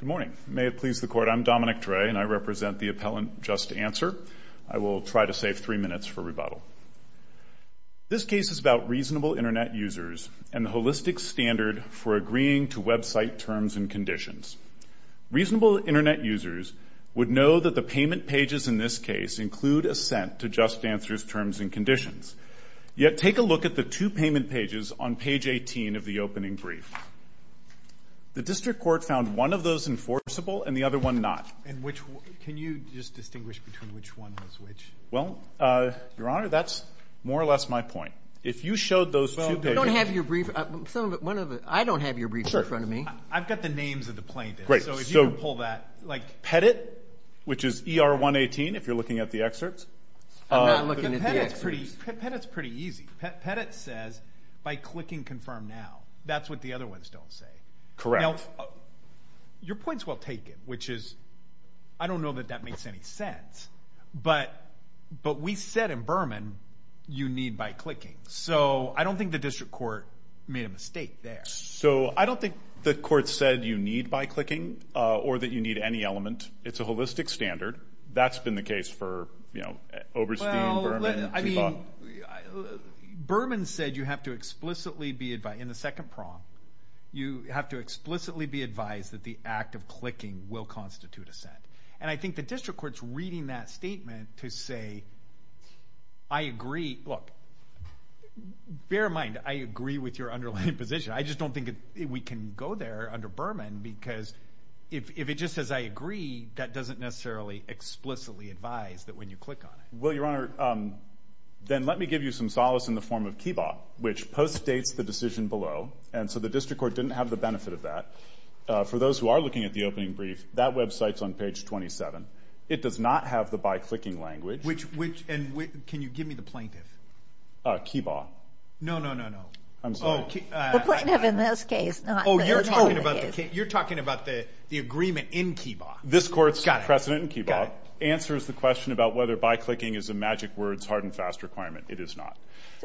Good morning. May it please the Court, I'm Dominic Dre and I represent the appellant JustAnswer. I will try to save three minutes for rebuttal. This case is about reasonable Internet users and the holistic standard for agreeing to website terms and conditions. Reasonable Internet users would know that the payment pages in this case include assent to JustAnswer's terms and conditions. Yet take a look at the two payment pages on page 18 of the opening brief. The district court found one of those enforceable and the other one not. And which one? Can you just distinguish between which one was which? Well, Your Honor, that's more or less my point. If you showed those two pages Well, we don't have your brief. I don't have your brief in front of me. I've got the names of the plaintiffs, so if you could pull that Great. So Pettit, which is ER 118 if you're looking at the excerpts I'm not looking at the excerpts. Pettit's pretty easy. Pettit says by clicking confirm now. That's what the other ones don't say. Correct. Your point's well taken, which is, I don't know that that makes any sense, but we said in Berman you need by clicking. So I don't think the district court made a mistake there. So I don't think the court said you need by clicking or that you need any element. It's a holistic standard. That's been the case for, you know, Oberstein, Berman, Chiffon. Well, I mean, Berman said you have to explicitly be, in the second prong, you have to explicitly be advised that the act of clicking will constitute assent. And I think the district court's reading that statement to say, I agree, look, bear in mind I agree with your underlying position. I just don't think we can go there under Berman because if it just says I agree, that doesn't necessarily explicitly advise that when you click on it. Well, Your Honor, then let me give you some solace in the form of KIBAH, which postdates the decision below. And so the district court didn't have the benefit of that. For those who are looking at the opening brief, that website's on page 27. It does not have the by clicking language. Which, and can you give me the plaintiff? KIBAH. No, no, no, no. I'm sorry. The plaintiff in this case, not the plaintiff. You're talking about the agreement in KIBAH. This court's precedent in KIBAH answers the question about whether by clicking is a magic word's hard and fast requirement. It is not.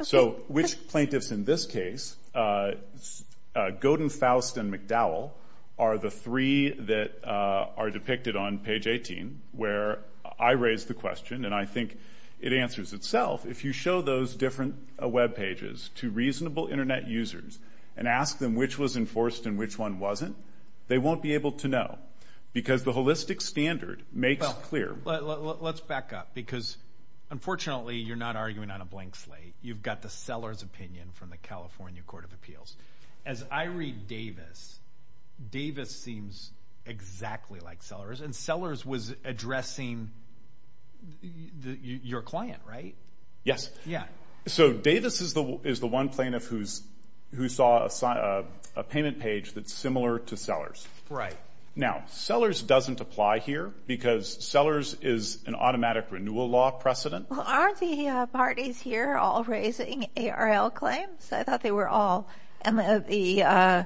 So which plaintiffs in this case, Godin, Faust, and McDowell, are the three that are depicted on page 18, where I raise the question, and I think it answers itself. If you show those different web pages to reasonable Internet users and ask them which was enforced and which one wasn't, they won't be able to know because the holistic standard makes clear. Let's back up because unfortunately you're not arguing on a blank slate. You've got the seller's opinion from the California Court of Appeals. As I read Davis, Davis seems exactly like Sellers, and Sellers was addressing your client, right? Yes. Yeah. So Davis is the one plaintiff who saw a payment page that's similar to Sellers. Right. Now, Sellers doesn't apply here because Sellers is an automatic renewal law precedent. Aren't the parties here all raising ARL claims? I thought they were all. And the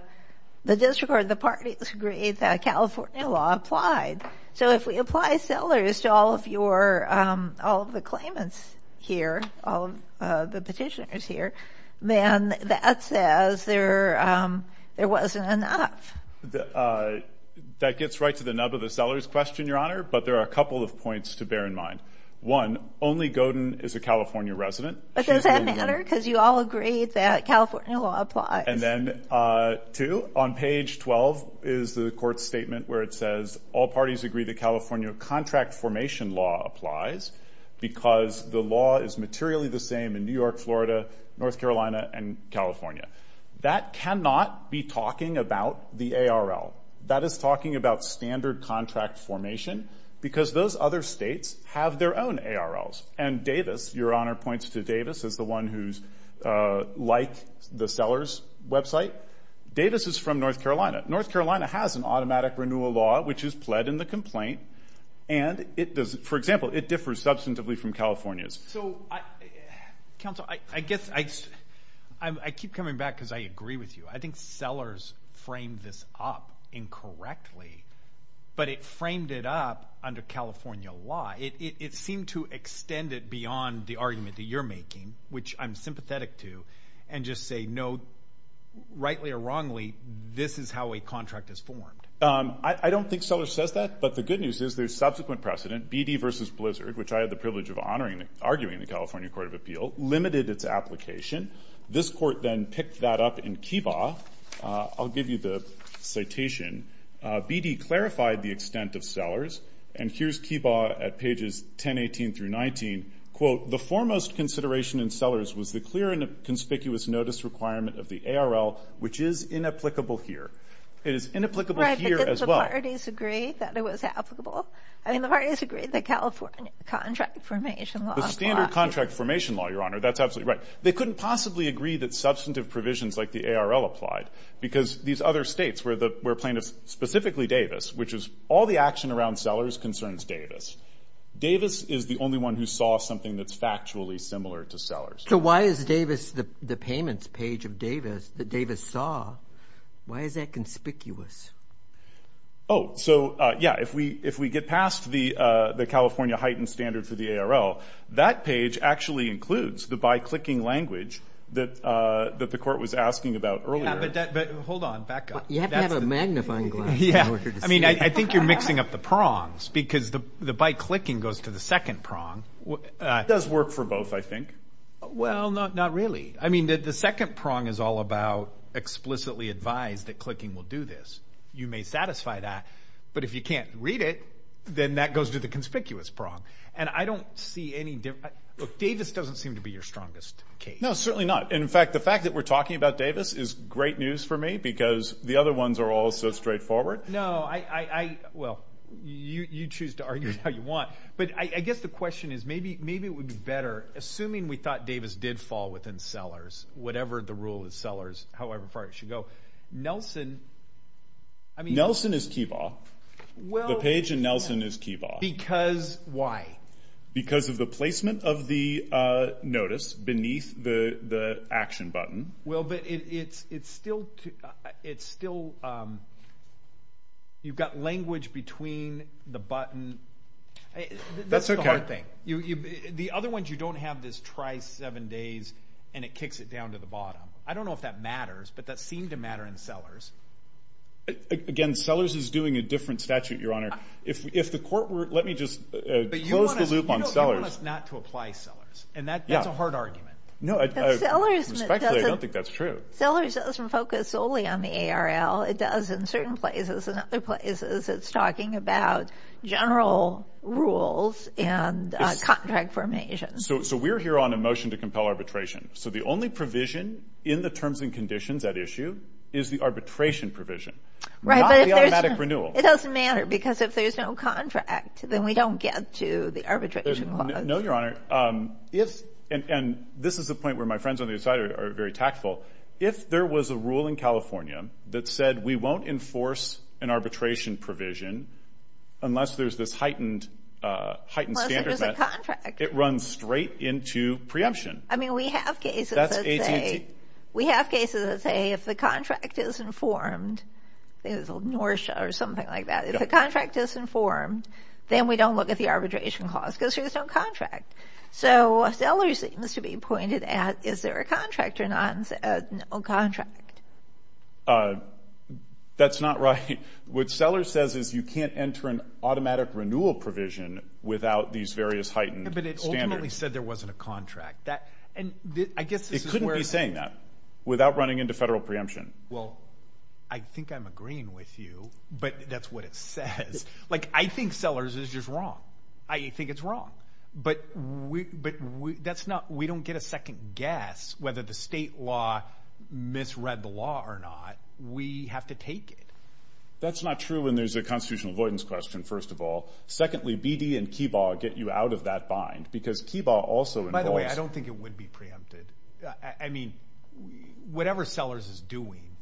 district or the parties agreed that California law applied. So if we apply Sellers to all of your, all of the claimants here, all of the petitioners here, then that says there wasn't enough. That gets right to the nub of the Sellers question, Your Honor, but there are a couple of points to bear in mind. One, only Godin is a California resident. But does that matter? Because you all agreed that California law applies. And then two, on page 12 is the court statement where it says all parties agree that California contract formation law applies because the law is materially the same in New York, Florida, North Carolina, and California. That cannot be talking about the ARL. That is talking about standard contract formation because those other states have their own ARLs. And Davis, Your Honor points to Davis as the one who's like the Sellers website. Davis is from North Carolina. North Carolina has an automatic renewal law, which is pled in the complaint. And it does, for example, it differs substantively from California's. So, Counsel, I guess I keep coming back because I agree with you. I think Sellers framed this up incorrectly, but it framed it up under California law. It seemed to extend it beyond the argument that you're making, which I'm sympathetic to, and just say, no, rightly or wrongly, this is how a contract is formed. I don't think Sellers says that, but the good news is there's subsequent precedent, BD versus Blizzard, which I had the privilege of arguing in the California Court of Appeal, limited its application. This court then picked that up in Kibah. I'll give you the citation. BD clarified the extent of Sellers. And here's Kibah at pages 10, 18 through 19. Quote, the foremost consideration in Sellers was the clear and conspicuous notice requirement of the ARL, which is inapplicable here. It is inapplicable here as well. Didn't the parties agree that it was applicable? I mean, the parties agreed that California contract formation law applied. The standard contract formation law, Your Honor. That's absolutely right. They couldn't possibly agree that substantive provisions like the ARL applied, because these other states where plaintiffs, specifically Davis, which is all the action around Sellers concerns Davis. Davis is the only one who saw something that's factually similar to Sellers. So why is Davis, the payments page of Davis, that Davis saw, why is that conspicuous? Oh, so yeah, if we get past the California heightened standard for the ARL, that page actually includes the by-clicking language that the court was asking about earlier. Yeah, but hold on. Back up. You have to have a magnifying glass in order to see. I mean, I think you're mixing up the prongs, because the by-clicking goes to the second prong. It does work for both, I think. Well, not really. I mean, the second prong is all about explicitly advised that clicking will do this. You may satisfy that, but if you can't read it, then that goes to the conspicuous prong. And I don't see any difference. Look, Davis doesn't seem to be your strongest case. No, certainly not. In fact, the fact that we're talking about Davis is great news for me, because the other ones are all so straightforward. No, I, well, you choose to argue how you want. But I guess the question is, maybe it would be better, assuming we thought Davis did fall within Sellers, whatever the rule is, Sellers, however far it should go. Nelson, I mean... Nelson is Kebaugh. The page in Nelson is Kebaugh. Because why? Because of the placement of the notice beneath the action button. Well, but it's still, it's still, you've got language between the button. That's okay. The other ones, you don't have this try seven days, and it kicks it down to the bottom. I don't know if that matters, but that seemed to matter in Sellers. Again, Sellers is doing a different statute, Your Honor. If the court were, let me just close the loop on Sellers. You want us not to apply Sellers, and that's a hard argument. No, respectfully, I don't think that's true. Sellers doesn't focus solely on the ARL. It does in certain places, and other places. It's talking about general rules and contract formation. So we're here on a motion to compel arbitration. So the only provision in the terms and conditions at issue is the arbitration provision. Right, but if there's... Not the automatic renewal. It doesn't matter, because if there's no contract, then we don't get to the arbitration clause. No, Your Honor. And this is the point where my friends on the other side are very tactful. If there was a rule in California that said, we won't enforce an arbitration provision unless there's this heightened standard met... Unless there's a contract. ...it runs straight into preemption. I mean, we have cases that say... That's AT&T. We have cases that say, if the contract is informed... I think it's Norcia or something like that. If the contract is informed, then we don't look at the arbitration clause, because there's no contract. So Sellers seems to be pointed at, is there a contract or no contract? That's not right. What Sellers says is you can't enter an automatic renewal provision without these various heightened standards. But it ultimately said there wasn't a contract. And I guess this is where... It couldn't be saying that without running into federal preemption. Well, I think I'm agreeing with you, but that's what it says. Like, I think Sellers is just wrong. I think it's wrong. But that's not... We don't get a second guess whether the state law misread the law or not. We have to take it. That's not true when there's a constitutional avoidance question, first of all. Secondly, BD and KIBAH get you out of that bind, because KIBAH also involves... By the way, I don't think it would be preempted. I mean, whatever Sellers is doing,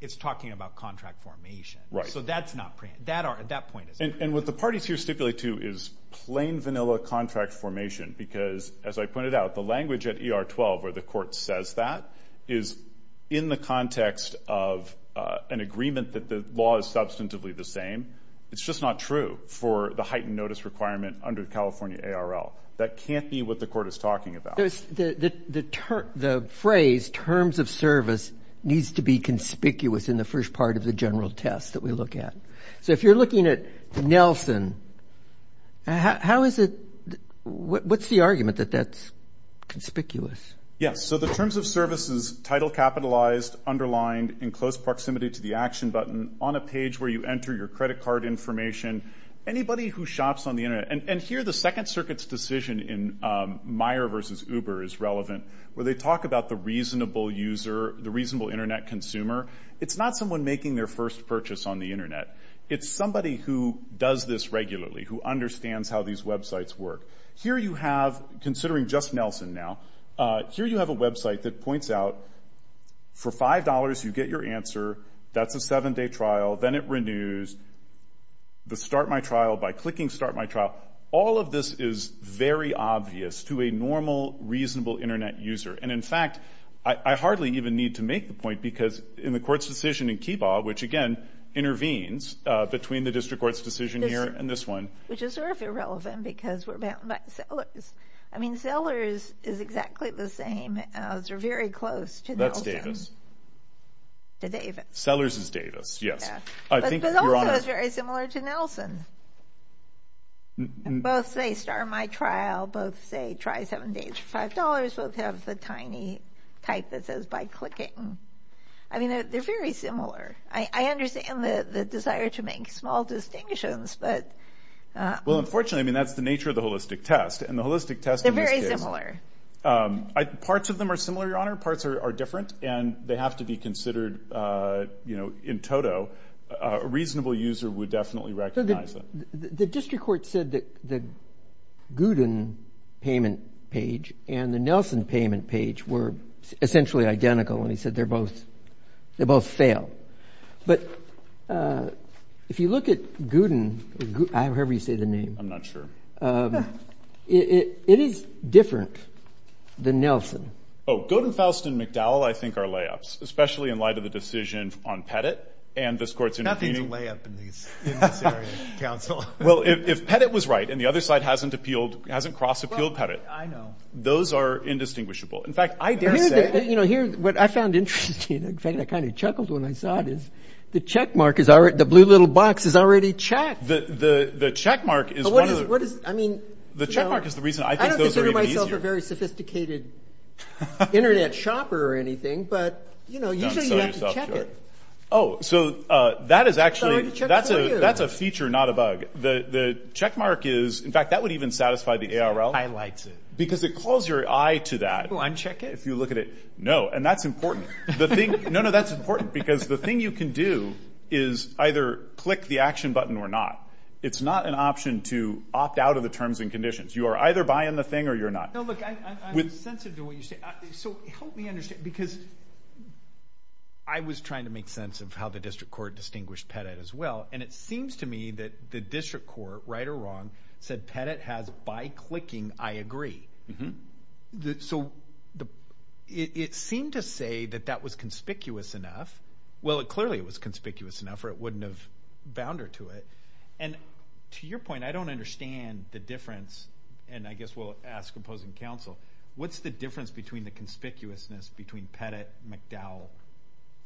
it's talking about contract formation. Right. So that's not preempted. That point is... And what the parties here stipulate to is plain vanilla contract formation, because, as I pointed out, the language at ER 12 where the court says that is in the context of an agreement that the law is substantively the same. It's just not true for the heightened notice requirement under California ARL. That can't be what the court is talking about. The phrase, terms of service, needs to be conspicuous in the first part of the general test that we look at. So if you're looking at Nelson, how is it... What's the argument that that's conspicuous? Yes. So the terms of service is title capitalized, underlined, in close proximity to the action button, on a page where you enter your credit card information. Anybody who shops on the Internet... And here the Second Circuit's decision in Meyer v. Uber is relevant, where they talk about the reasonable user, the reasonable Internet consumer. It's not someone making their first purchase on the Internet. It's somebody who does this regularly, who understands how these websites work. Here you have, considering just Nelson now, here you have a website that points out, for $5 you get your answer, that's a seven-day trial, then it renews, the start my trial by clicking start my trial. All of this is very obvious to a normal, reasonable Internet user. And, in fact, I hardly even need to make the point because in the court's decision in Keebaugh, which, again, intervenes between the district court's decision here and this one... Which is sort of irrelevant because we're bound by Sellers. I mean Sellers is exactly the same as or very close to Nelson. That's Davis. To Davis. Sellers is Davis, yes. But also it's very similar to Nelson. Both say start my trial. Both say try seven days for $5. Both have the tiny type that says by clicking. I mean they're very similar. I understand the desire to make small distinctions, but... Well, unfortunately, I mean, that's the nature of the holistic test. And the holistic test in this case... They're very similar. Parts of them are similar, Your Honor. Parts are different. And they have to be considered, you know, in toto. So a reasonable user would definitely recognize them. The district court said that the Gooden payment page and the Nelson payment page were essentially identical, and he said they both fail. But if you look at Gooden, or however you say the name... I'm not sure. It is different than Nelson. Oh, Gooden, Faust, and McDowell I think are layups, especially in light of the decision on Pettit and this court's intervening. Nothing's a layup in this area, counsel. Well, if Pettit was right and the other side hasn't appealed, hasn't cross-appealed Pettit, those are indistinguishable. In fact, I dare say... You know, what I found interesting, in fact I kind of chuckled when I saw it, is the checkmark, the blue little box is already checked. The checkmark is one of the... I mean... The checkmark is the reason I think those are even easier. I don't consider myself a very sophisticated Internet shopper or anything, but, you know, usually you have to check it. Oh, so that is actually... That's a feature, not a bug. The checkmark is... In fact, that would even satisfy the ARL. I like it. Because it calls your eye to that. Uncheck it? If you look at it. No. And that's important. No, no, that's important, because the thing you can do is either click the action button or not. It's not an option to opt out of the terms and conditions. You are either buying the thing or you're not. No, look, I'm sensitive to what you say. So help me understand, because I was trying to make sense of how the district court distinguished Pettit as well, and it seems to me that the district court, right or wrong, said Pettit has, by clicking, I agree. So it seemed to say that that was conspicuous enough. Well, clearly it was conspicuous enough or it wouldn't have bound her to it. And to your point, I don't understand the difference, and I guess we'll ask opposing counsel, what's the difference between the conspicuousness between Pettit, McDowell,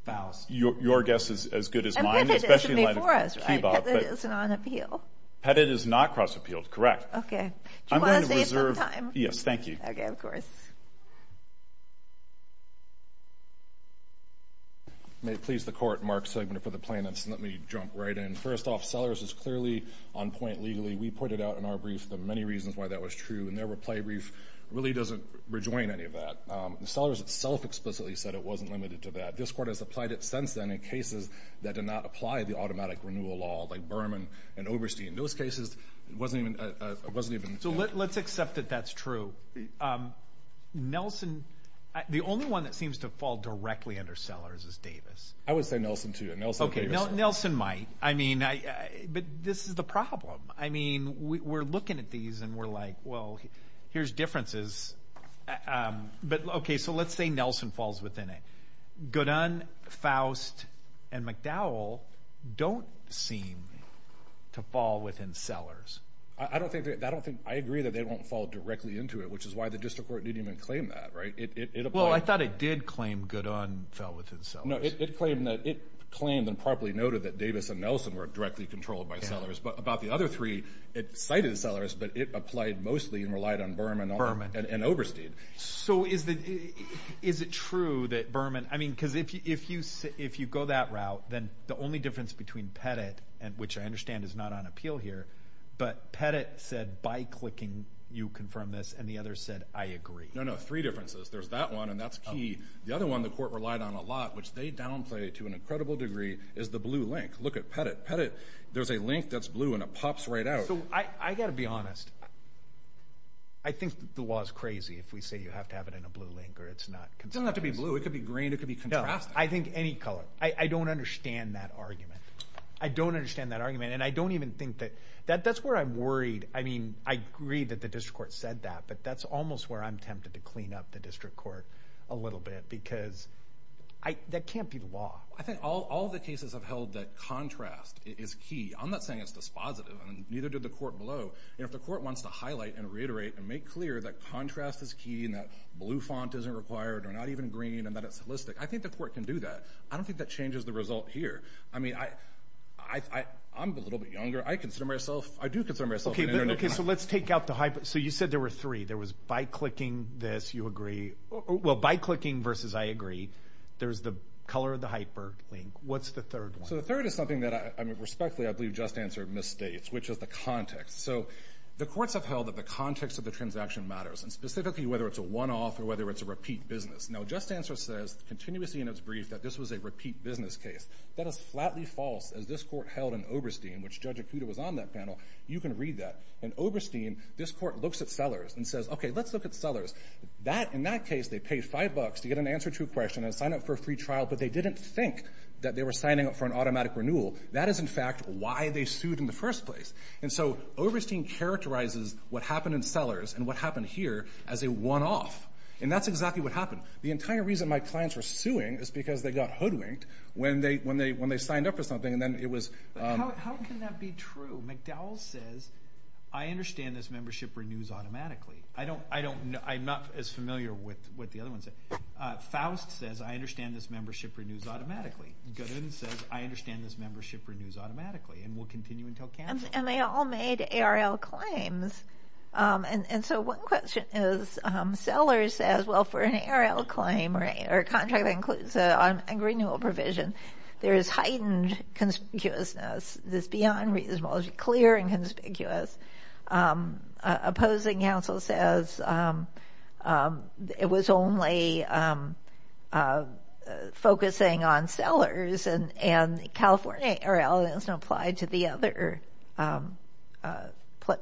Faust? Your guess is as good as mine. And Pettit isn't on appeal. Pettit is not cross-appealed, correct. Do you want to save some time? Yes, thank you. Okay, of course. May it please the Court, Mark Segma for the Plaintiffs, and let me jump right in. First off, Sellers is clearly on point legally. We pointed out in our brief the many reasons why that was true, and their reply brief really doesn't rejoin any of that. And Sellers itself explicitly said it wasn't limited to that. This Court has applied it since then in cases that did not apply the automatic renewal law, like Berman and Oberstein. In those cases, it wasn't even counted. So let's accept that that's true. Nelson, the only one that seems to fall directly under Sellers is Davis. I would say Nelson, too. Okay, Nelson might. But this is the problem. I mean, we're looking at these and we're like, well, here's differences. But, okay, so let's say Nelson falls within it. Goodun, Faust, and McDowell don't seem to fall within Sellers. I agree that they won't fall directly into it, which is why the District Court didn't even claim that, right? Well, I thought it did claim Goodun fell within Sellers. No, it claimed and properly noted that Davis and Nelson were directly controlled by Sellers. But about the other three, it cited Sellers, but it applied mostly and relied on Berman and Oberstein. So is it true that Berman, I mean, because if you go that route, then the only difference between Pettit, which I understand is not on appeal here, but Pettit said by clicking you confirm this, and the others said I agree. No, no, three differences. There's that one, and that's key. The other one the Court relied on a lot, which they downplay to an incredible degree, is the blue link. Look at Pettit. Pettit, there's a link that's blue, and it pops right out. I've got to be honest. I think the law is crazy if we say you have to have it in a blue link or it's not. It doesn't have to be blue. It could be green. It could be contrasting. No, I think any color. I don't understand that argument. I don't understand that argument, and I don't even think that that's where I'm worried. I mean, I agree that the District Court said that, but that's almost where I'm tempted to clean up the District Court a little bit because that can't be the law. I think all the cases have held that contrast is key. I'm not saying it's dispositive, and neither did the Court below. If the Court wants to highlight and reiterate and make clear that contrast is key and that blue font isn't required or not even green and that it's holistic, I think the Court can do that. I don't think that changes the result here. I mean, I'm a little bit younger. I do consider myself an internecine. Okay, so let's take out the hyper. So you said there were three. There was by clicking this you agree. Well, by clicking versus I agree. There's the color of the hyper link. What's the third one? So the third is something that, respectfully, I believe Just Answer misstates, which is the context. So the courts have held that the context of the transaction matters, and specifically whether it's a one-off or whether it's a repeat business. Now, Just Answer says continuously in its brief that this was a repeat business case. That is flatly false. As this Court held in Oberstein, which Judge Acuda was on that panel, you can read that. In Oberstein, this Court looks at sellers and says, okay, let's look at sellers. In that case, they paid $5 to get an answer to a question and sign up for a free trial, but they didn't think that they were signing up for an automatic renewal. That is, in fact, why they sued in the first place. And so Oberstein characterizes what happened in sellers and what happened here as a one-off. And that's exactly what happened. The entire reason my clients were suing is because they got hoodwinked when they signed up for something. How can that be true? McDowell says, I understand this membership renews automatically. I'm not as familiar with what the other one said. Faust says, I understand this membership renews automatically. Goodwin says, I understand this membership renews automatically and will continue until canceled. And they all made ARL claims. And so one question is sellers says, well, for an ARL claim or contract that includes a renewal provision, there is heightened conspicuousness. Is this beyond reasonable? Is it clear and conspicuous? Opposing counsel says it was only focusing on sellers and California ARL is not applied to the other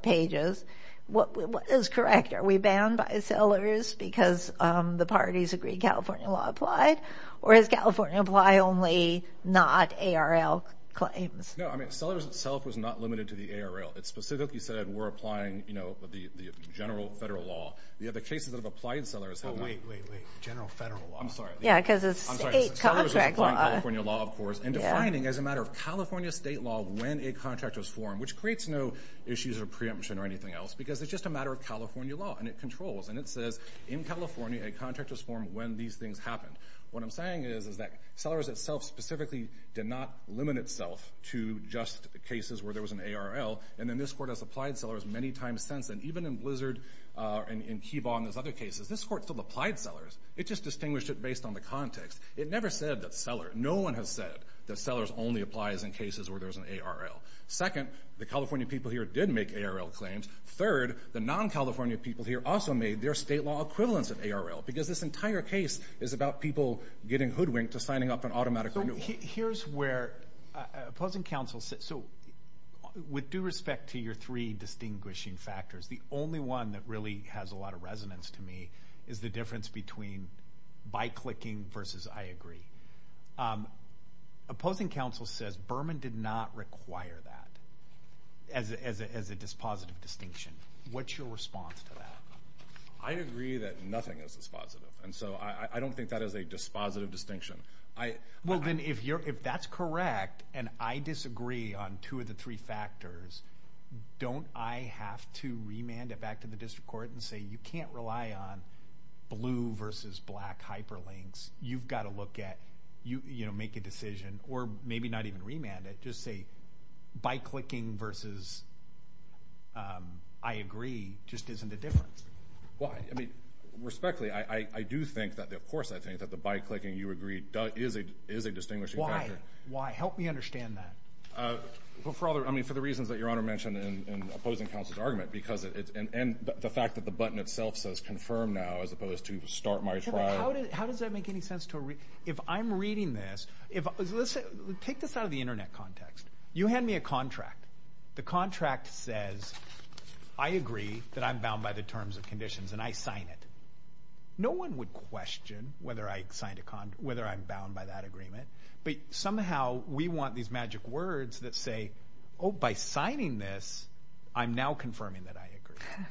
pages. What is correct? Are we banned by sellers because the parties agree California law applied? Or does California apply only not ARL claims? No, I mean, sellers itself was not limited to the ARL. It specifically said we're applying the general federal law. The other cases that have applied sellers have not. Wait, wait, wait. General federal law. I'm sorry. Yeah, because it's state contract law. California law, of course. And defining as a matter of California state law when a contract was formed, which creates no issues or preemption or anything else, because it's just a matter of California law and it controls. And it says in California, a contract was formed when these things happened. What I'm saying is, is that sellers itself specifically did not limit itself to just the cases where there was an ARL. And then this Court has applied sellers many times since. And even in Blizzard and Keebaugh and those other cases, this Court still applied sellers. It just distinguished it based on the context. It never said that seller, no one has said that sellers only applies in cases where there's an ARL. Second, the California people here did make ARL claims. Third, the non-California people here also made their state law equivalence of ARL because this entire case is about people getting hoodwinked to signing up for an automatic renewal. So here's where opposing counsel says, so with due respect to your three distinguishing factors, the only one that really has a lot of resonance to me is the difference between by clicking versus I agree. Opposing counsel says Berman did not require that as a dispositive distinction. What's your response to that? I agree that nothing is dispositive. And so I don't think that is a dispositive distinction. Well, then, if that's correct and I disagree on two of the three factors, don't I have to remand it back to the District Court and say, you can't rely on blue versus black hyperlinks. You've got to look at, you know, make a decision or maybe not even remand it. Just say by clicking versus I agree just isn't a difference. Why? I mean, respectfully, I do think that, of course, I think that the by clicking, you agree, is a distinguishing factor. Why? Why? Help me understand that. I mean, for the reasons that Your Honor mentioned in opposing counsel's argument and the fact that the button itself says confirm now as opposed to start my trial. How does that make any sense? If I'm reading this, take this out of the Internet context. You hand me a contract. The contract says I agree that I'm bound by the terms and conditions and I sign it. No one would question whether I'm bound by that agreement. But somehow we want these magic words that say, oh, by signing this, I'm now confirming that I agree.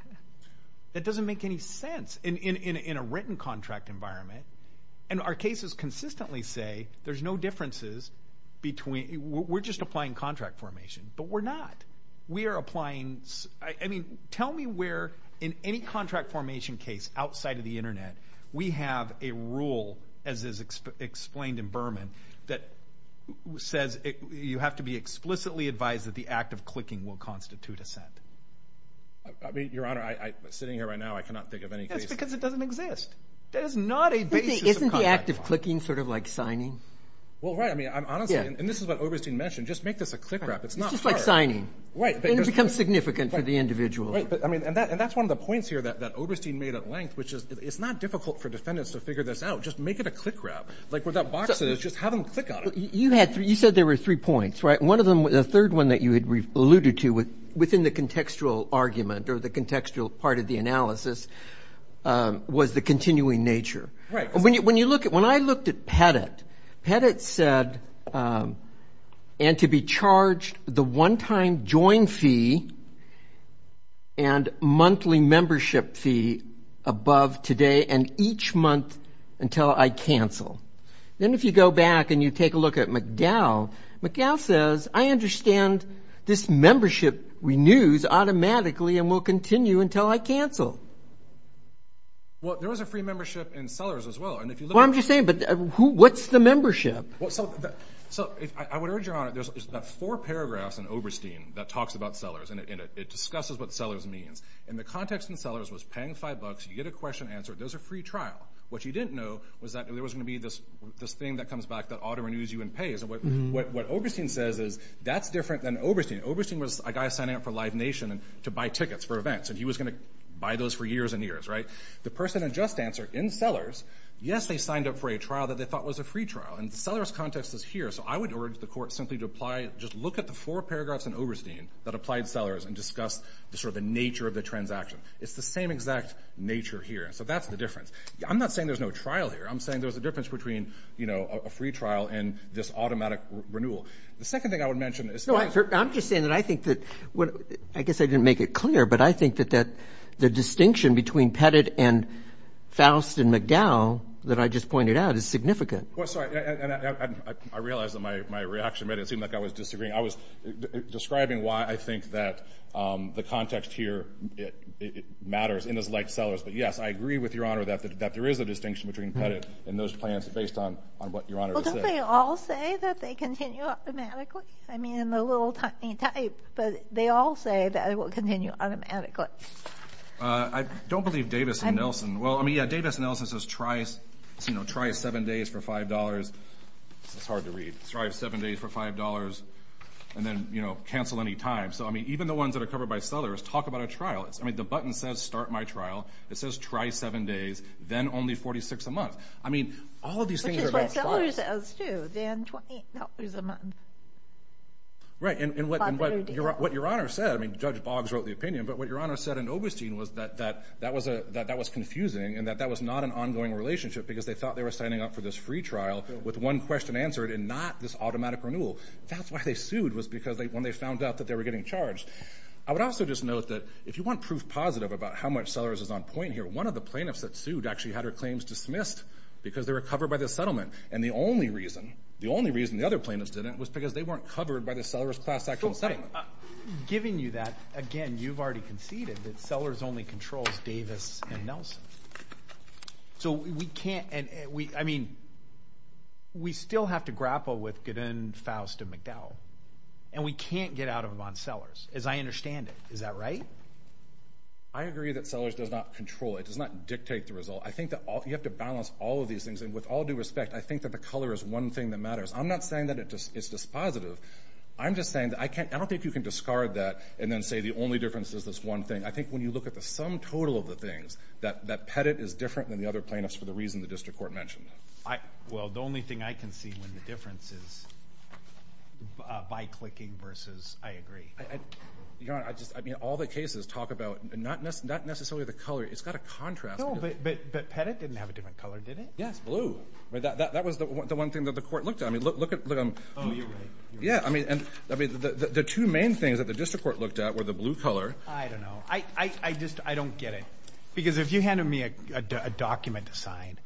That doesn't make any sense in a written contract environment. And our cases consistently say there's no differences between. We're just applying contract formation. But we're not. We are applying. I mean, tell me where in any contract formation case outside of the Internet we have a rule, as is explained in Berman, that says you have to be explicitly advised that the act of clicking will constitute assent. Your Honor, sitting here right now, I cannot think of any case. That's because it doesn't exist. That is not a basis of contract formation. Isn't the act of clicking sort of like signing? Well, right. I mean, honestly, and this is what Oberstein mentioned, just make this a click wrap. It's not hard. It's just like signing. Right. And it becomes significant for the individual. Right. And that's one of the points here that Oberstein made at length, which is it's not difficult for defendants to figure this out. Just make it a click wrap. Like where that box is, just have them click on it. You said there were three points, right? And the third one that you had alluded to within the contextual argument or the contextual part of the analysis was the continuing nature. Right. When I looked at Pettit, Pettit said, and to be charged the one-time join fee and monthly membership fee above today and each month until I cancel. Then if you go back and you take a look at McDowell, McDowell says, I understand this membership renews automatically and will continue until I cancel. Well, there was a free membership in Sellers as well. Well, I'm just saying, but what's the membership? So I would urge your Honor, there's four paragraphs in Oberstein that talks about Sellers, and it discusses what Sellers means. And the context in Sellers was paying five bucks, you get a question answered, there's a free trial. What you didn't know was that there was going to be this thing that comes back that auto-renews you and pays. And what Oberstein says is that's different than Oberstein. Oberstein was a guy signing up for Live Nation to buy tickets for events, and he was going to buy those for years and years, right? The person had just answered in Sellers, yes, they signed up for a trial that they thought was a free trial. And the Sellers context is here. So I would urge the Court simply to apply, just look at the four paragraphs in Oberstein that applied Sellers and discuss sort of the nature of the transaction. It's the same exact nature here. So that's the difference. I'm not saying there's no trial here. I'm saying there's a difference between, you know, a free trial and this automatic renewal. The second thing I would mention is – No, I'm just saying that I think that – I guess I didn't make it clear, but I think that the distinction between Pettit and Faust and McDowell that I just pointed out is significant. Well, sorry, and I realize that my reaction made it seem like I was disagreeing. I was describing why I think that the context here matters, and it's like Sellers. But, yes, I agree with Your Honor that there is a distinction between Pettit and those plans based on what Your Honor just said. Well, don't they all say that they continue automatically? I mean, I'm a little tiny type, but they all say that it will continue automatically. I don't believe Davis and Nelson. Well, I mean, yeah, Davis and Nelson says try seven days for $5. It's hard to read. Try seven days for $5 and then, you know, cancel any time. So, I mean, even the ones that are covered by Sellers talk about a trial. I mean, the button says start my trial. It says try seven days, then only $46 a month. I mean, all of these things are about $5. Which is what Sellers says too, then $20 a month. Right, and what Your Honor said, I mean, Judge Boggs wrote the opinion, but what Your Honor said in Oberstein was that that was confusing and that that was not an ongoing relationship because they thought they were signing up for this free trial with one question answered and not this automatic renewal. That's why they sued was because when they found out that they were getting charged. I would also just note that if you want proof positive about how much Sellers is on point here, one of the plaintiffs that sued actually had her claims dismissed because they were covered by the settlement. And the only reason, the only reason the other plaintiffs didn't, was because they weren't covered by the Sellers Class Actual Settlement. Giving you that, again, you've already conceded that Sellers only controls Davis and Nelson. So, we can't, I mean, we still have to grapple with Gidden, Faust, and McDowell. And we can't get out of them on Sellers, as I understand it. Is that right? I agree that Sellers does not control. It does not dictate the result. I think that you have to balance all of these things. And with all due respect, I think that the color is one thing that matters. I'm not saying that it's dispositive. I'm just saying that I can't, I don't think you can discard that and then say the only difference is this one thing. I think when you look at the sum total of the things, that Pettit is different than the other plaintiffs for the reason the district court mentioned. Well, the only thing I can see when the difference is by clicking versus I agree. Your Honor, I just, I mean, all the cases talk about not necessarily the color. It's got a contrast. No, but Pettit didn't have a different color, did it? Yes, blue. That was the one thing that the court looked at. I mean, look at them. Oh, you're right. Yeah, I mean, the two main things that the district court looked at were the blue color. I don't know. I just don't get it. Because if you handed me a document to sign,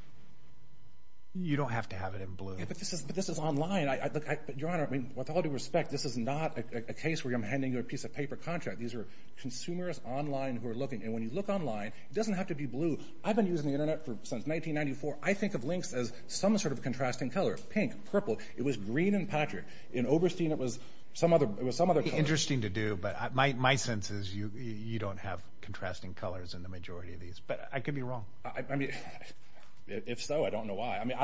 you don't have to have it in blue. Yeah, but this is online. Your Honor, I mean, with all due respect, this is not a case where I'm handing you a piece of paper contract. These are consumers online who are looking, and when you look online, it doesn't have to be blue. I've been using the Internet since 1994. I think of links as some sort of contrasting color, pink, purple. It was green in Patrick. In Oberstein, it was some other color. Interesting to do, but my sense is you don't have contrasting colors in the majority of these. But I could be wrong. I mean, if so, I don't know why. I mean,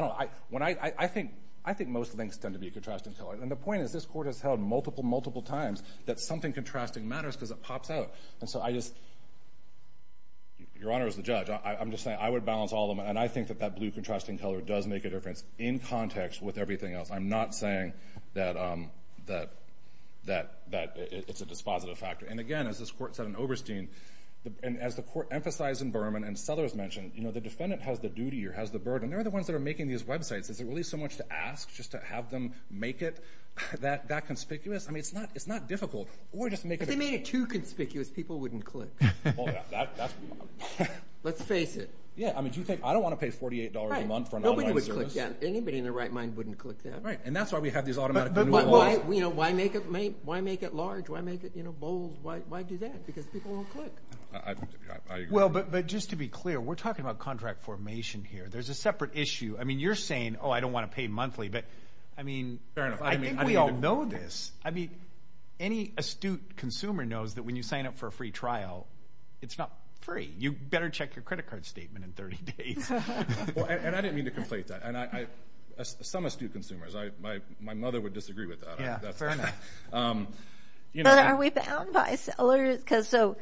I think most links tend to be a contrasting color, and the point is this court has held multiple, multiple times that something contrasting matters because it pops out. And so I just—Your Honor, as the judge, I'm just saying I would balance all of them, and I think that that blue contrasting color does make a difference in context with everything else. I'm not saying that it's a dispositive factor. And again, as this court said in Oberstein, and as the court emphasized in Berman and Sellers mentioned, the defendant has the duty or has the burden. They're the ones that are making these websites. Is it really so much to ask just to have them make it that conspicuous? I mean, it's not difficult. If they made it too conspicuous, people wouldn't click. Let's face it. Yeah, I mean, do you think—I don't want to pay $48 a month for an online service. Yeah, anybody in their right mind wouldn't click that. Right, and that's why we have these automatic renewal laws. Why make it large? Why make it bold? Why do that? Because people won't click. Well, but just to be clear, we're talking about contract formation here. There's a separate issue. I mean, you're saying, oh, I don't want to pay monthly, but, I mean, I think we all know this. I mean, any astute consumer knows that when you sign up for a free trial, it's not free. You better check your credit card statement in 30 days. And I didn't mean to conflate that. Some astute consumers. My mother would disagree with that. Yeah, fair enough. But are we bound by sellers? Because so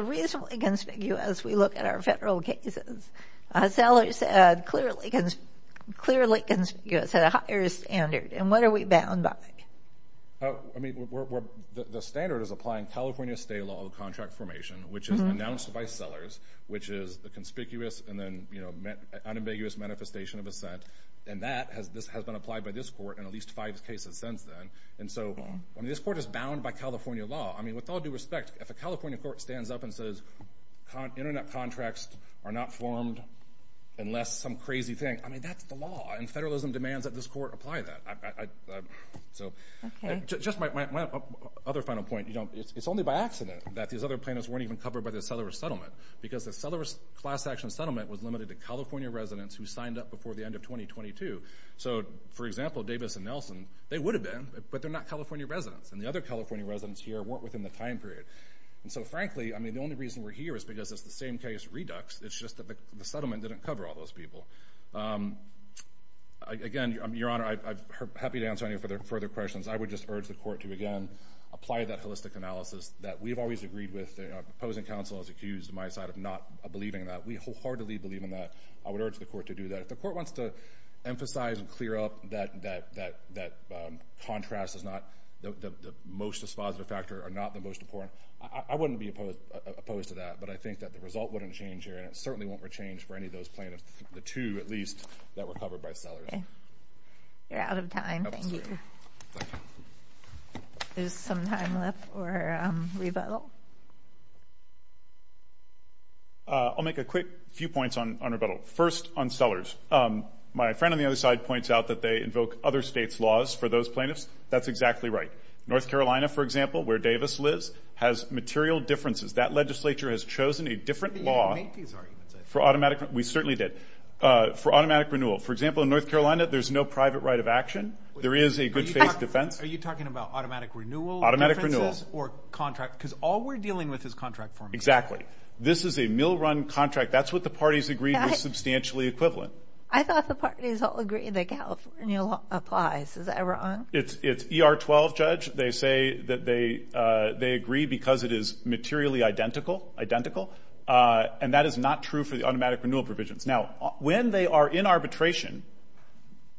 reasonably conspicuous, we look at our federal cases. Sellers are clearly conspicuous at a higher standard. And what are we bound by? I mean, the standard is applying California state law of contract formation, which is announced by sellers, which is a conspicuous and then unambiguous manifestation of assent. And that has been applied by this court in at least five cases since then. And so, I mean, this court is bound by California law. I mean, with all due respect, if a California court stands up and says internet contracts are not formed unless some crazy thing, I mean, that's the law, and federalism demands that this court apply that. Okay. Just my other final point. You know, it's only by accident that these other plaintiffs weren't even covered by the sellerless settlement because the sellerless class action settlement was limited to California residents who signed up before the end of 2022. So, for example, Davis and Nelson, they would have been, but they're not California residents. And the other California residents here weren't within the time period. And so, frankly, I mean, the only reason we're here is because it's the same case redux. It's just that the settlement didn't cover all those people. Again, Your Honor, I'm happy to answer any further questions. I would just urge the court to, again, apply that holistic analysis that we've always agreed with. The opposing counsel is accused on my side of not believing that. We wholeheartedly believe in that. I would urge the court to do that. If the court wants to emphasize and clear up that contrast is not the most dispositive factor or not the most important, I wouldn't be opposed to that. But I think that the result wouldn't change here, and it certainly won't change for any of those plaintiffs. The two, at least, that were covered by Sellers. You're out of time. Thank you. There's some time left for rebuttal. I'll make a quick few points on rebuttal. First, on Sellers, my friend on the other side points out that they invoke other states' laws for those plaintiffs. That's exactly right. North Carolina, for example, where Davis lives, has material differences. That legislature has chosen a different law. We certainly did. For automatic renewal, for example, in North Carolina, there's no private right of action. There is a good faith defense. Are you talking about automatic renewal differences or contract? Because all we're dealing with is contract forms. Exactly. This is a mill-run contract. That's what the parties agreed was substantially equivalent. I thought the parties all agreed that California applies. Is that wrong? It's ER-12, Judge. They say that they agree because it is materially identical, and that is not true for the automatic renewal provisions. Now, when they are in arbitration,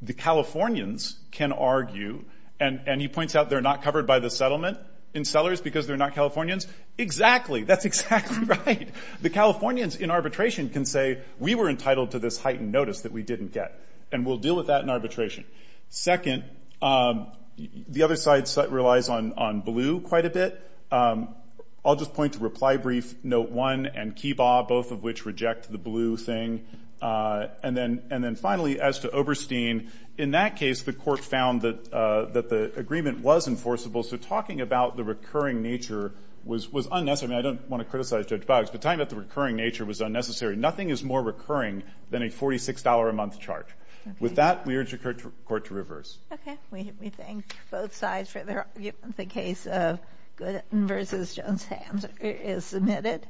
the Californians can argue, and he points out they're not covered by the settlement in Sellers because they're not Californians. Exactly. That's exactly right. The Californians in arbitration can say, we were entitled to this heightened notice that we didn't get, and we'll deal with that in arbitration. Second, the other side relies on blue quite a bit. I'll just point to reply brief, note one, and Kiba, both of which reject the blue thing. And then finally, as to Oberstein, in that case, the court found that the agreement was enforceable, so talking about the recurring nature was unnecessary. I don't want to criticize Judge Boggs, but talking about the recurring nature was unnecessary. Nothing is more recurring than a $46-a-month charge. With that, we urge the court to reverse. Okay. We thank both sides for their argument. The case of Goodin v. Jones-Hams is submitted.